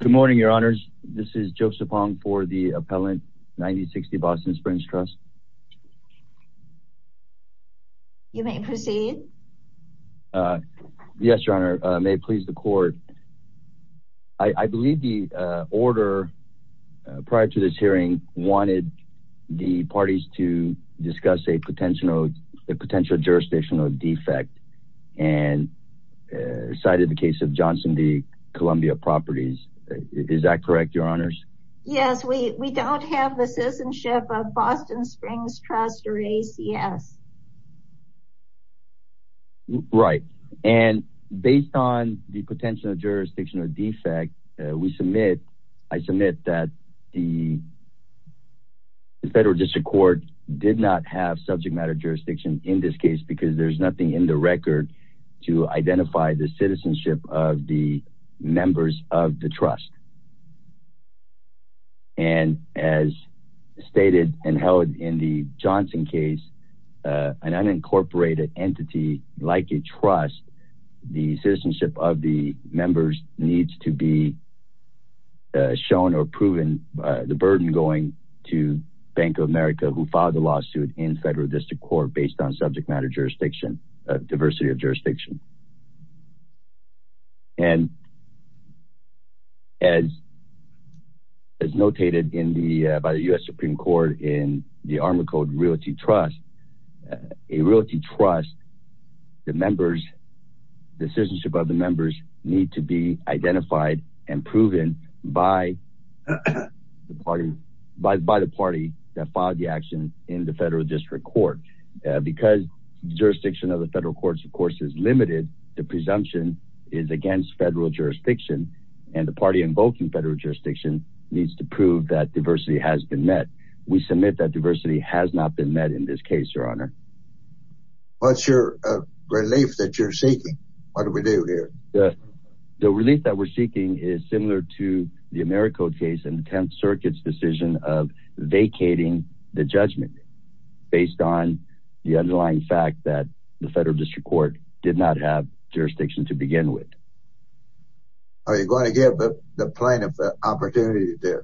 Good morning, Your Honors. This is Joseph Hong for the Appellant 9060 Boston Springs Trust. You may proceed. Yes, Your Honor. May it please the Court. I believe the order prior to this hearing wanted the parties to discuss a potential jurisdictional defect and cited the case of Johnson v. Columbia Properties. Is that correct, Your Honors? Yes, we don't have the citizenship of Boston Springs Trust or ACS. Right. And based on the potential jurisdictional defect, we submit, I submit that the Federal District Court did not have subject matter jurisdiction in this case because there's nothing in the record to identify the citizenship of the members of the trust. And as stated and held in the Johnson case, an unincorporated entity like a trust, the citizenship of the members needs to be shown or proven the burden going to Bank of America who filed the lawsuit in Federal District Court based on subject matter jurisdiction, diversity of jurisdiction. And as is notated in the by the U.S. Supreme Court in the ArmaCode Realty Trust, a realty trust, the members, the citizenship of the members need to be identified and proven by the party that filed the action in the Federal District Court. Because jurisdiction of the federal courts, of course, is limited. The presumption is against federal jurisdiction and the party invoking federal jurisdiction needs to prove that diversity has been met. We submit that diversity has not been met in this case, Your Honor. What's your relief that you're seeking? What do we do here? The relief that we're seeking is similar to the AmeriCode case and Circuit's decision of vacating the judgment based on the underlying fact that the Federal District Court did not have jurisdiction to begin with. Are you going to give the plaintiff the opportunity to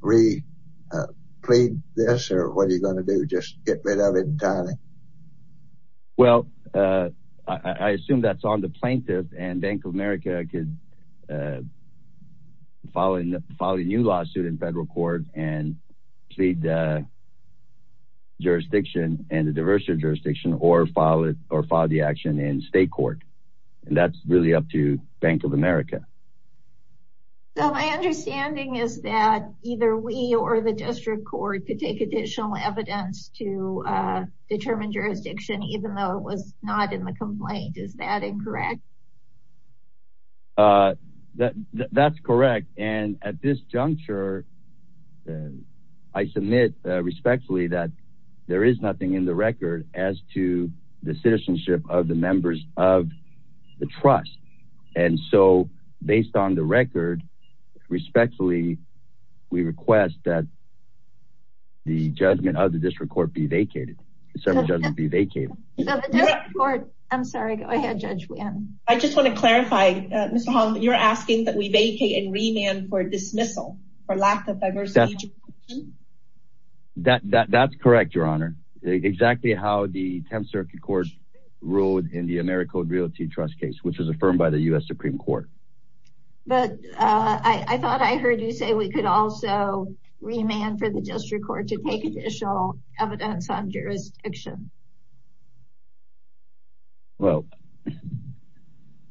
re-plead this or what are you going to do, just get rid of it entirely? Well, I assume that's on the plaintiff and Bank of America could file a new lawsuit in federal court and plead jurisdiction and the diversity of jurisdiction or file it or file the action in state court. And that's really up to Bank of America. So my understanding is that either we or the District Court could take additional evidence to determine jurisdiction even though it was not in the complaint. Is that incorrect? That's correct. And at this juncture, I submit respectfully that there is nothing in the record as to the citizenship of the members of the trust. And so based on the record, respectfully, we request that the judgment of the District Court be vacated. So the judgment be vacated. I'm sorry, go ahead, Judge Wynn. I just want to clarify, Mr. Hall, you're asking that we vacate and remand for dismissal for lack of diversity of jurisdiction? That's correct, Your Honor. Exactly how the 10th Circuit Court ruled in the AmeriCode Realty Trust case, which was affirmed by the U.S. Supreme Court. But I thought I heard you say we could also remand for the District Court to take additional evidence on jurisdiction. Well,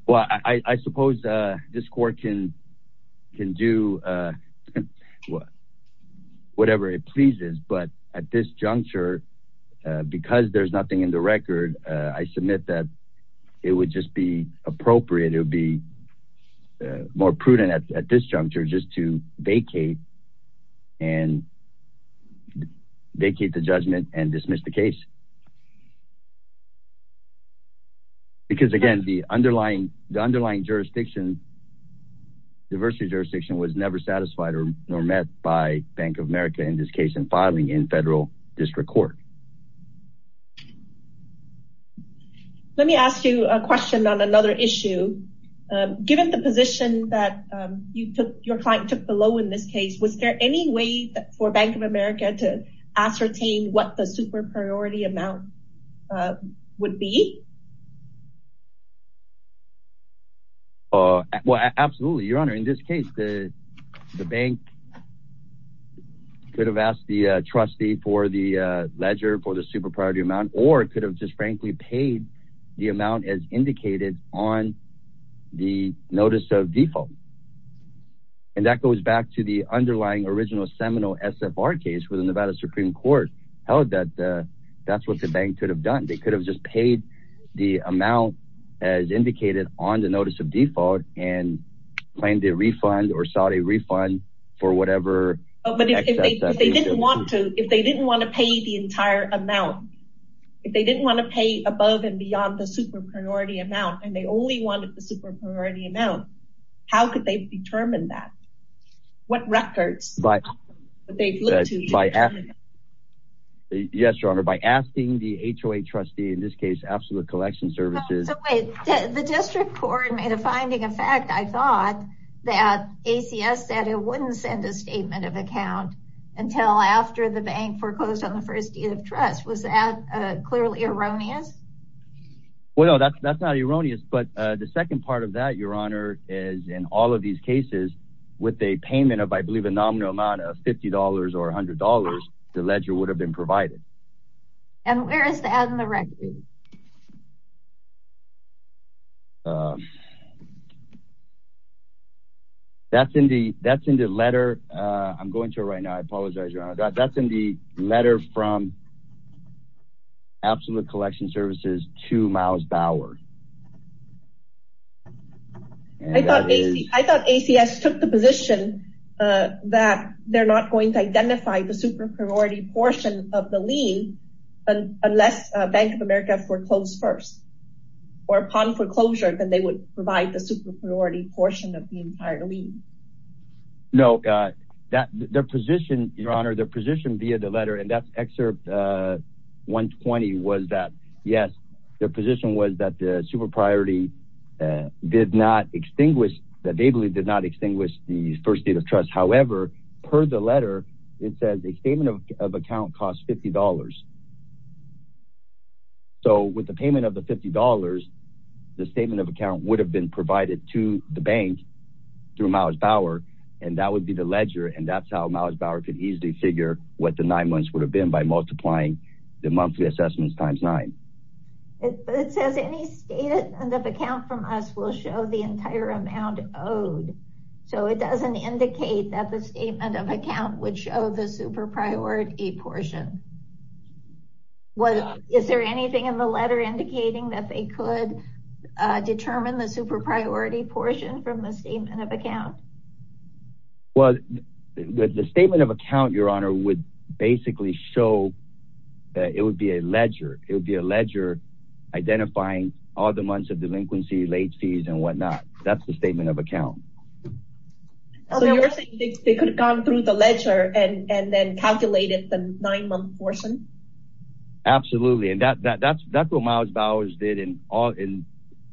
well, I suppose this court can do whatever it pleases. But at this juncture, because there's nothing in the record, I submit that it would just be appropriate it would be more prudent at this juncture just to vacate and vacate the judgment and dismiss the case. Because, again, the underlying jurisdiction, diversity of jurisdiction was never satisfied or met by Bank of America in this case in filing in federal district court. Let me ask you a question on another issue. Given the position that you took, your client took below in this case, was there any way for Bank of America to ascertain what the super priority amount would be? Well, absolutely, Your Honor. In this case, the bank could have asked the trustee for the ledger for the super priority amount or could have just frankly paid the amount as indicated on the notice of default. And that goes back to the underlying original seminal SFR case with the Nevada Supreme Court held that that's what the bank could have done. They could have just paid the amount as indicated on the notice of default and claimed a refund or sought a refund for whatever. But if they didn't want to, if they didn't want to pay the entire amount, if they didn't want to pay above and beyond the super priority amount, and they only wanted the super priority amount, how could they determine that? What records? Yes, Your Honor, by asking the HOA trustee, in this case, Absolute Collection Services. The district court made a finding, in fact, I thought that ACS said it wouldn't send a statement of account until after the bank foreclosed on the first deed of trust. Was that clearly erroneous? Well, that's not erroneous. But the second part of that, Your Honor, is in all of these cases with a payment of, I believe, a nominal amount of $50 or $100, the ledger would have been provided. And where is that in the record? That's in the letter. I'm going to it right now. I apologize, Your Honor. That's in the letter from Absolute Collection Services to Miles Bauer. I thought ACS took the position that they're not going to identify the super priority portion of the lien unless Bank of America foreclosed first. Or upon foreclosure, then they would provide the super priority portion of the entire lien. No. Their position, Your Honor, their position via the letter, and that's excerpt 120, was that, yes, their position was that the super priority did not extinguish, that they believe did not extinguish the first deed of trust. However, per the letter, it says a statement of account costs $50. So with the payment of the $50, the statement of account would have been provided to the bank through Miles Bauer, and that would be the ledger, and that's how Miles Bauer could easily figure what the nine months would have been by multiplying the monthly assessments times nine. It says any statement of account from us will show the entire amount owed. So it doesn't indicate that the statement of account would show the super priority portion. Is there anything in the letter indicating that they could determine the super priority portion from the statement of account? Well, the statement of account, Your Honor, would basically show that it would be a ledger. It would be a ledger identifying all the months of delinquency, late fees, and whatnot. That's the statement of account. So you're saying they could have gone through the ledger and then calculated the nine-month portion? Absolutely, and that's what Miles Bauer did in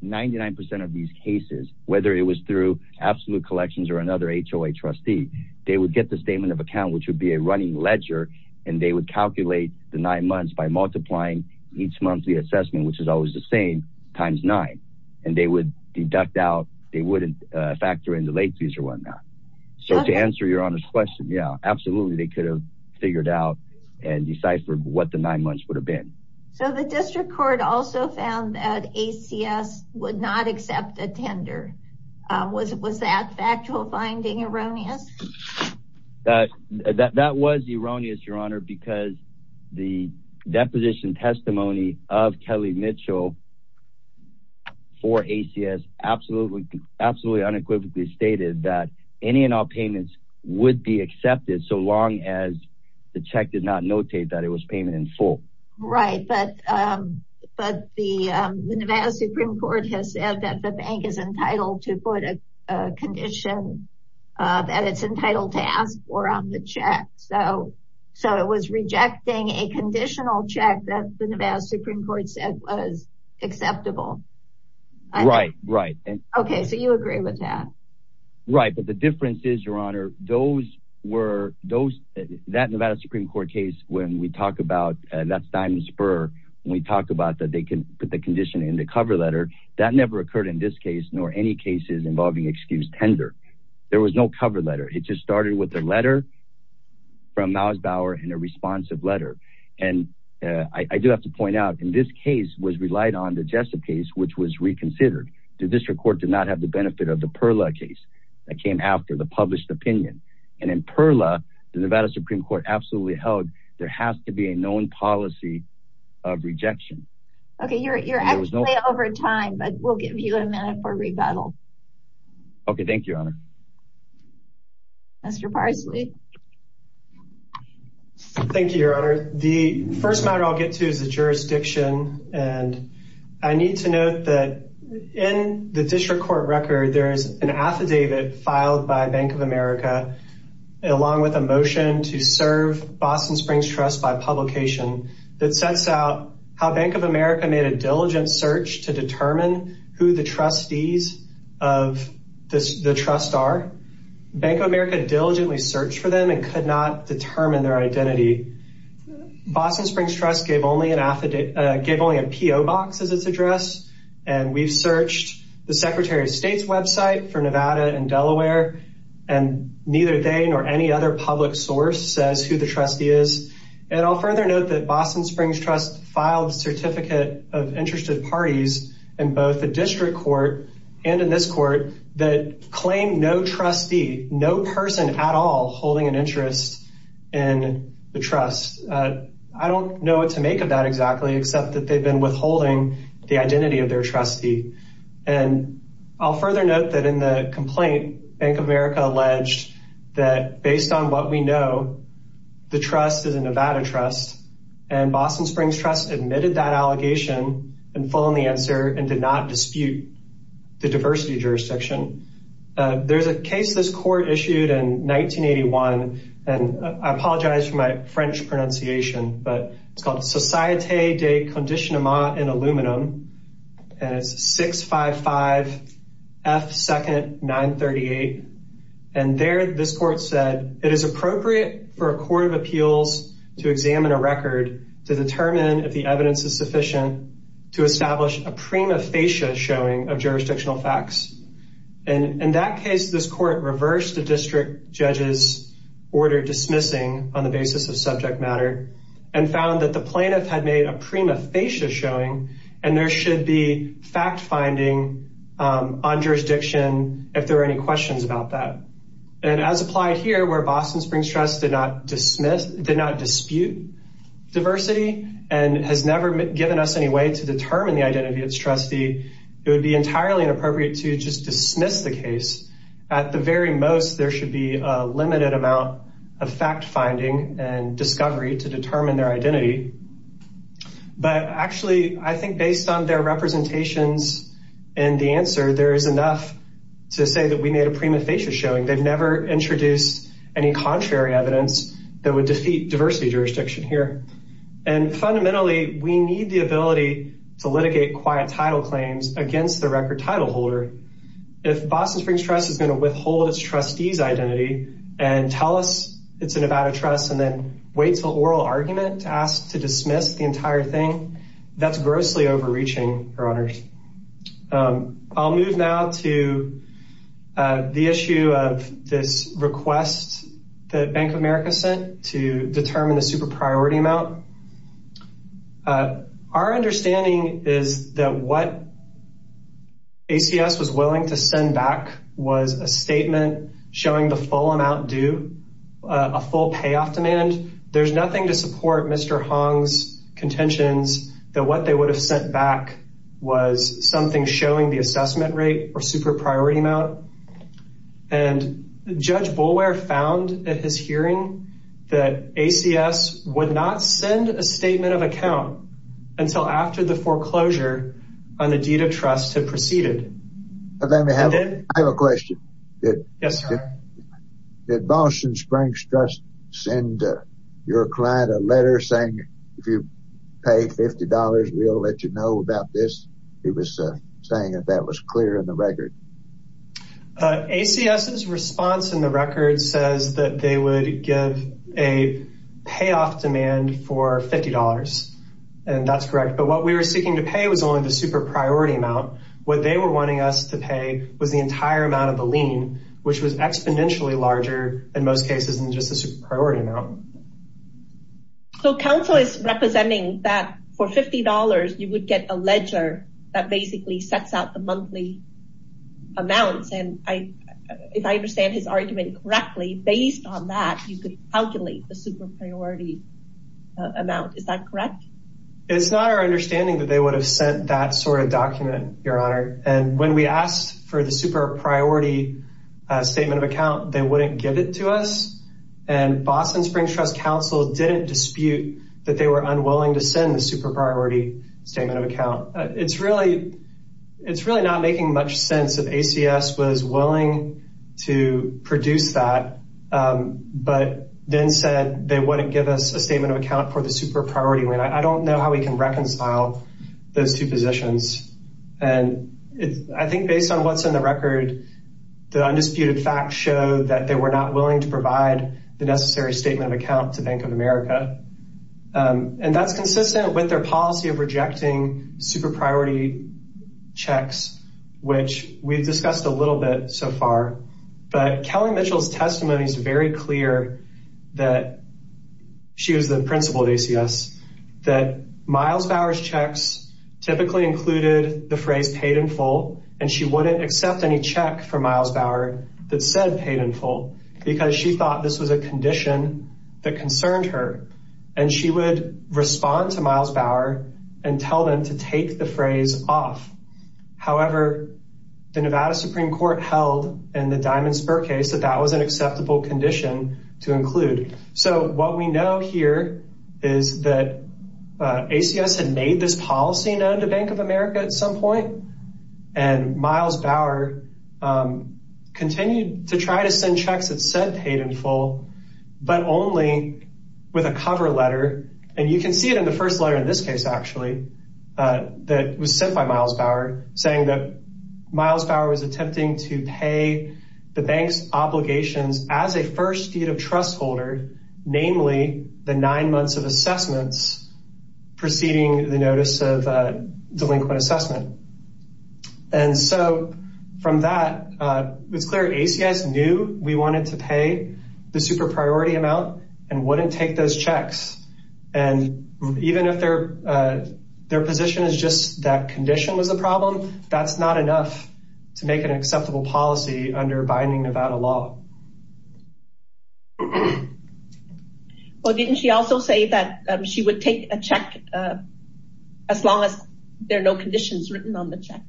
99% of these cases, whether it was through Absolute Collections or another HOA trustee. They would get the statement of account, which would be a running ledger, and they would calculate the nine months by multiplying each monthly assessment, which is always the same, times nine. And they would deduct out, they wouldn't factor in the late fees or whatnot. So to answer Your Honor's question, yeah, absolutely. They could have figured out and deciphered what the nine months would have been. So the district court also found that ACS would not accept a tender. Was that factual finding erroneous? That was erroneous, Your Honor, because the deposition testimony of Kelly Mitchell for ACS absolutely unequivocally stated that any and all payments would be accepted so long as the check did not notate that it was payment in full. Right, but the Nevada Supreme Court has said that the bank is entitled to put a condition that it's entitled to ask for on the check. So it was rejecting a conditional check that the Nevada Supreme Court said was acceptable. Right, right. Okay, so you agree with that? Right, but the difference is, Your Honor, that Nevada Supreme Court case when we talk about, that's Diamond Spur, when we talk about that they can put the condition in the cover letter, that never occurred in this case nor any cases involving excused tender. There was no cover letter. It just started with a letter from Miles Bauer and a responsive letter. And I do have to point out in this case was relied on the Jessup case, which was reconsidered. The district court did not have the benefit of the Perla case that came after the published opinion. And in Perla, the Nevada Supreme Court absolutely held there has to be a known policy of rejection. Okay, you're actually over time, but we'll give you a minute for rebuttal. Okay, thank you, Your Honor. Mr. Parsley. Thank you, Your Honor. The first matter I'll get to is the jurisdiction. And I need to note that in the district court record, there is an affidavit filed by Bank of America, along with a motion to serve Boston Springs Trust by publication, that sets out how Bank of America made a diligent search to determine who the trustees of the trust are. Bank of America diligently searched for them and could not determine their identity. Boston Springs Trust gave only an affidavit, gave only a PO box as its address. And we've searched the Secretary of State's website for Nevada and Delaware and neither they nor any other public source says who the trustee is. And I'll further note that Boston Springs Trust filed a Certificate of Interested Parties in both the district court and in this court that claimed no trustee, no person at all holding an interest in the trust. I don't know what to make of that exactly, except that they've been withholding the identity of their trustee. And I'll further note that in the complaint, Bank of America alleged that based on what we know, the trust is a Nevada trust and Boston Springs Trust admitted that allegation and followed the answer and did not dispute the diversity jurisdiction. There's a case this court issued in 1981, and I apologize for my French pronunciation, but it's called Societe de Conditionement in Aluminum and it's 655 F. 2nd. 938. And there this court said it is appropriate for a court of appeals to examine a record to determine if the evidence is sufficient to establish a prima facie showing of jurisdictional facts. In that case, this court reversed the district judge's order dismissing on the basis of subject matter and found that the plaintiff had made a prima facie showing and there should be fact finding on jurisdiction if there are any questions about that. And as applied here where Boston Springs Trust did not dispute diversity and has never given us any way to determine the identity of its trustee, it would be entirely inappropriate to just dismiss the case. At the very most, there should be a limited amount of fact finding and discovery to determine their identity. But actually, I think based on their representations and the answer, there is enough to say that we made a prima facie showing. They've never introduced any contrary evidence that would defeat diversity jurisdiction here. And fundamentally, we need the ability to litigate quiet title claims against the record title holder. If Boston Springs Trust is going to withhold its trustees identity and tell us it's a Nevada trust and then wait till oral argument to ask to dismiss the entire thing, that's grossly overreaching, Your Honors. I'll move now to the issue of this request that Bank of America sent to determine the super priority amount. Our understanding is that what ACS was willing to send back was a statement showing the full amount due, a full payoff demand. There's nothing to support Mr. Hong's contentions that what they would have sent back was something showing the assessment rate or super priority amount. And Judge Boulware found at his hearing that ACS would not send a statement of account until after the foreclosure on the deed of trust had proceeded. I have a question. Did Boston Springs Trust send your client a letter saying if you pay $50, we'll let you know about this? He was saying that that was clear in the record. ACS's response in the record says that they would give a payoff demand for $50. And that's correct. But what we were seeking to pay was only the super priority amount. What they were wanting us to pay was the entire amount of the lien, which was exponentially larger in most cases than just the super priority amount. So counsel is representing that for $50, you would get a ledger that basically sets out the monthly amounts. And if I understand his argument correctly, based on that, you could calculate the super priority amount. Is that correct? It's not our understanding that they would have sent that sort of document, Your Honor. And when we asked for the super priority statement of account, they wouldn't give it to us. And Boston Springs Trust counsel didn't dispute that they were unwilling to send the super priority statement of account. It's really it's really not making much sense that ACS was willing to produce that, but then said they wouldn't give us a statement of account for the super priority. I don't know how we can reconcile those two positions. And I think based on what's in the record, the undisputed facts show that they were not willing to provide the necessary statement of account to Bank of America. And that's consistent with their policy of rejecting super priority checks, which we've discussed a little bit so far. But Kelly Mitchell's testimony is very clear that she was the principal of ACS, that Miles Bauer's checks typically included the phrase paid in full. And she wouldn't accept any check from Miles Bauer that said paid in full because she thought this was a condition that concerned her. And she would respond to Miles Bauer and tell them to take the phrase off. However, the Nevada Supreme Court held in the Diamond Spur case that that was an acceptable condition to include. So what we know here is that ACS had made this policy known to Bank of America at some point. And Miles Bauer continued to try to send checks that said paid in full, but only with a cover letter. And you can see it in the first letter in this case, actually, that was sent by Miles Bauer, saying that Miles Bauer was attempting to pay the bank's obligations as a first deed of trust holder, namely the nine months of assessments preceding the notice of delinquent assessment. And so from that, it's clear ACS knew we wanted to pay the super priority amount and wouldn't take those checks. And even if their position is just that condition was a problem, that's not enough to make an acceptable policy under binding Nevada law. Well, didn't she also say that she would take a check as long as there are no conditions written on the check?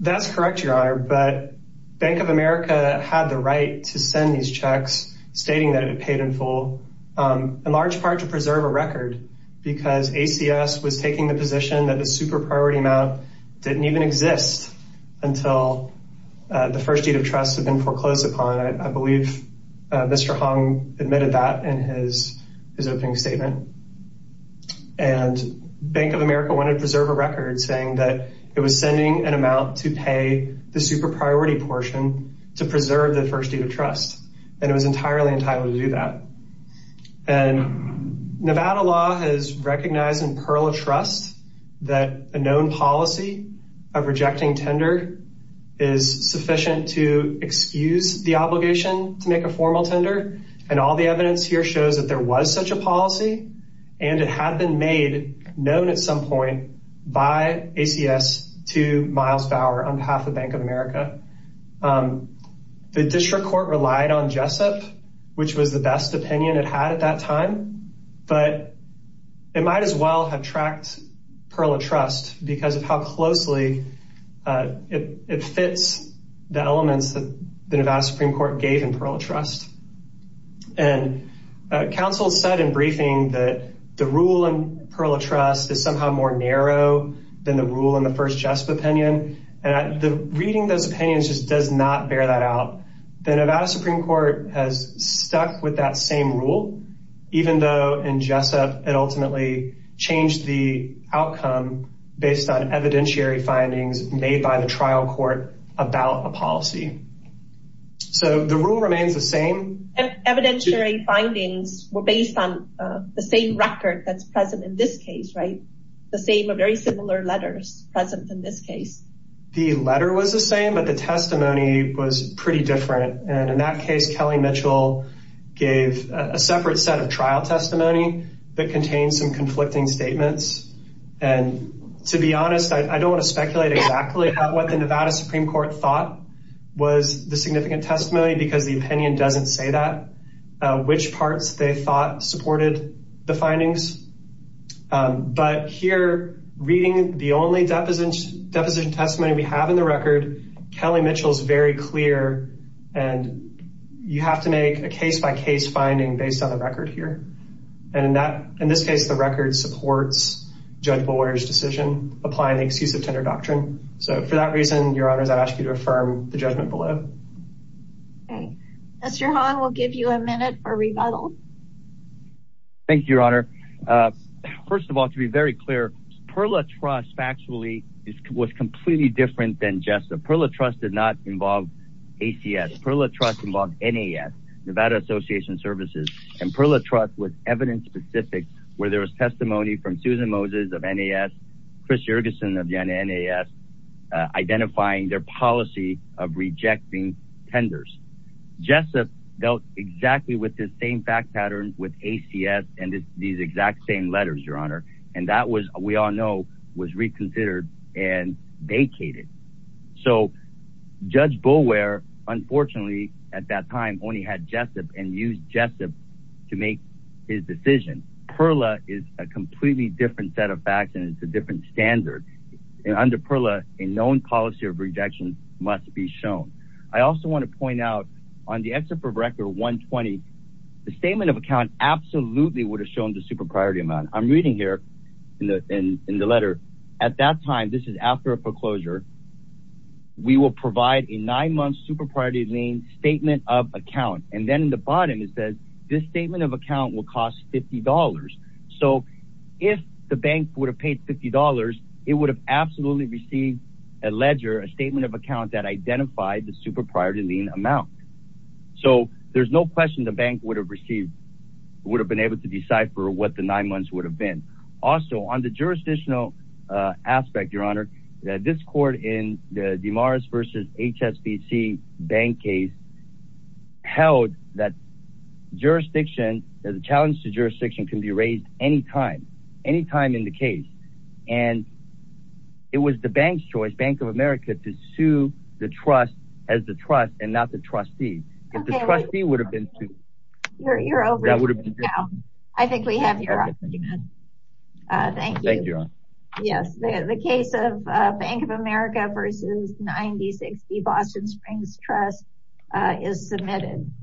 That's correct, Your Honor. But Bank of America had the right to send these checks stating that it had paid in full, in large part to preserve a record because ACS was taking the position that the super priority amount didn't even exist until the first deed of trust had been foreclosed upon. I believe Mr. Hong admitted that in his opening statement. And Bank of America wanted to preserve a record saying that it was sending an amount to pay the super priority portion to preserve the first deed of trust. And it was entirely entitled to do that. And Nevada law has recognized in Pearl of Trust that a known policy of rejecting tender is sufficient to excuse the obligation to make a formal tender. And all the evidence here shows that there was such a policy and it had been made known at some point by ACS to Miles Bauer on behalf of Bank of America. The district court relied on Jessup, which was the best opinion it had at that time. But it might as well have tracked Pearl of Trust because of how closely it fits the elements that the Nevada Supreme Court gave in Pearl of Trust. And counsel said in briefing that the rule in Pearl of Trust is somehow more narrow than the rule in the first Jessup opinion. And reading those opinions just does not bear that out. The Nevada Supreme Court has stuck with that same rule, even though in Jessup it ultimately changed the outcome based on evidentiary findings made by the trial court about a policy. So the rule remains the same. Evidentiary findings were based on the same record that's present in this case, right? The same or very similar letters present in this case. The letter was the same, but the testimony was pretty different. And in that case, Kelly Mitchell gave a separate set of trial testimony that contains some conflicting statements. And to be honest, I don't want to speculate exactly what the Nevada Supreme Court thought was the significant testimony because the opinion doesn't say that. Which parts they thought supported the findings. But here, reading the only deposition testimony we have in the record, Kelly Mitchell is very clear. And you have to make a case-by-case finding based on the record here. And in this case, the record supports Judge Bowyer's decision, applying the Exclusive Tender Doctrine. So for that reason, Your Honors, I ask you to affirm the judgment below. Okay. Mr. Hong, we'll give you a minute for rebuttal. Thank you, Your Honor. First of all, to be very clear, Perla Trust factually was completely different than Jessup. Perla Trust did not involve ACS. Perla Trust involved NAS, Nevada Association Services. And Perla Trust was evidence-specific, where there was testimony from Susan Moses of NAS, Chris Yergeson of NAS, identifying their policy of rejecting tenders. Jessup dealt exactly with this same fact pattern with ACS and these exact same letters, Your Honor. And that was, we all know, was reconsidered and vacated. So Judge Bowyer, unfortunately, at that time, only had Jessup and used Jessup to make his decision. Perla is a completely different set of facts and it's a different standard. And under Perla, a known policy of rejection must be shown. I also want to point out, on the excerpt from Record 120, the statement of account absolutely would have shown the super priority amount. I'm reading here in the letter, at that time, this is after a foreclosure, we will provide a nine-month super priority lien statement of account. And then in the bottom, it says, this statement of account will cost $50. So if the bank would have paid $50, it would have absolutely received a ledger, a statement of account that identified the super priority lien amount. So there's no question the bank would have received, would have been able to decipher what the nine months would have been. Also, on the jurisdictional aspect, Your Honor, this court in the DeMars versus HSBC bank case held that jurisdiction, that the challenge to jurisdiction can be raised anytime, anytime in the case. And it was the bank's choice, Bank of America, to sue the trust as the trust and not the trustee. If the trustee would have been sued, that would have been different. I think we have your honor. Thank you. Thank you, Your Honor. Yes, the case of Bank of America versus 9060 Boston Springs Trust is submitted.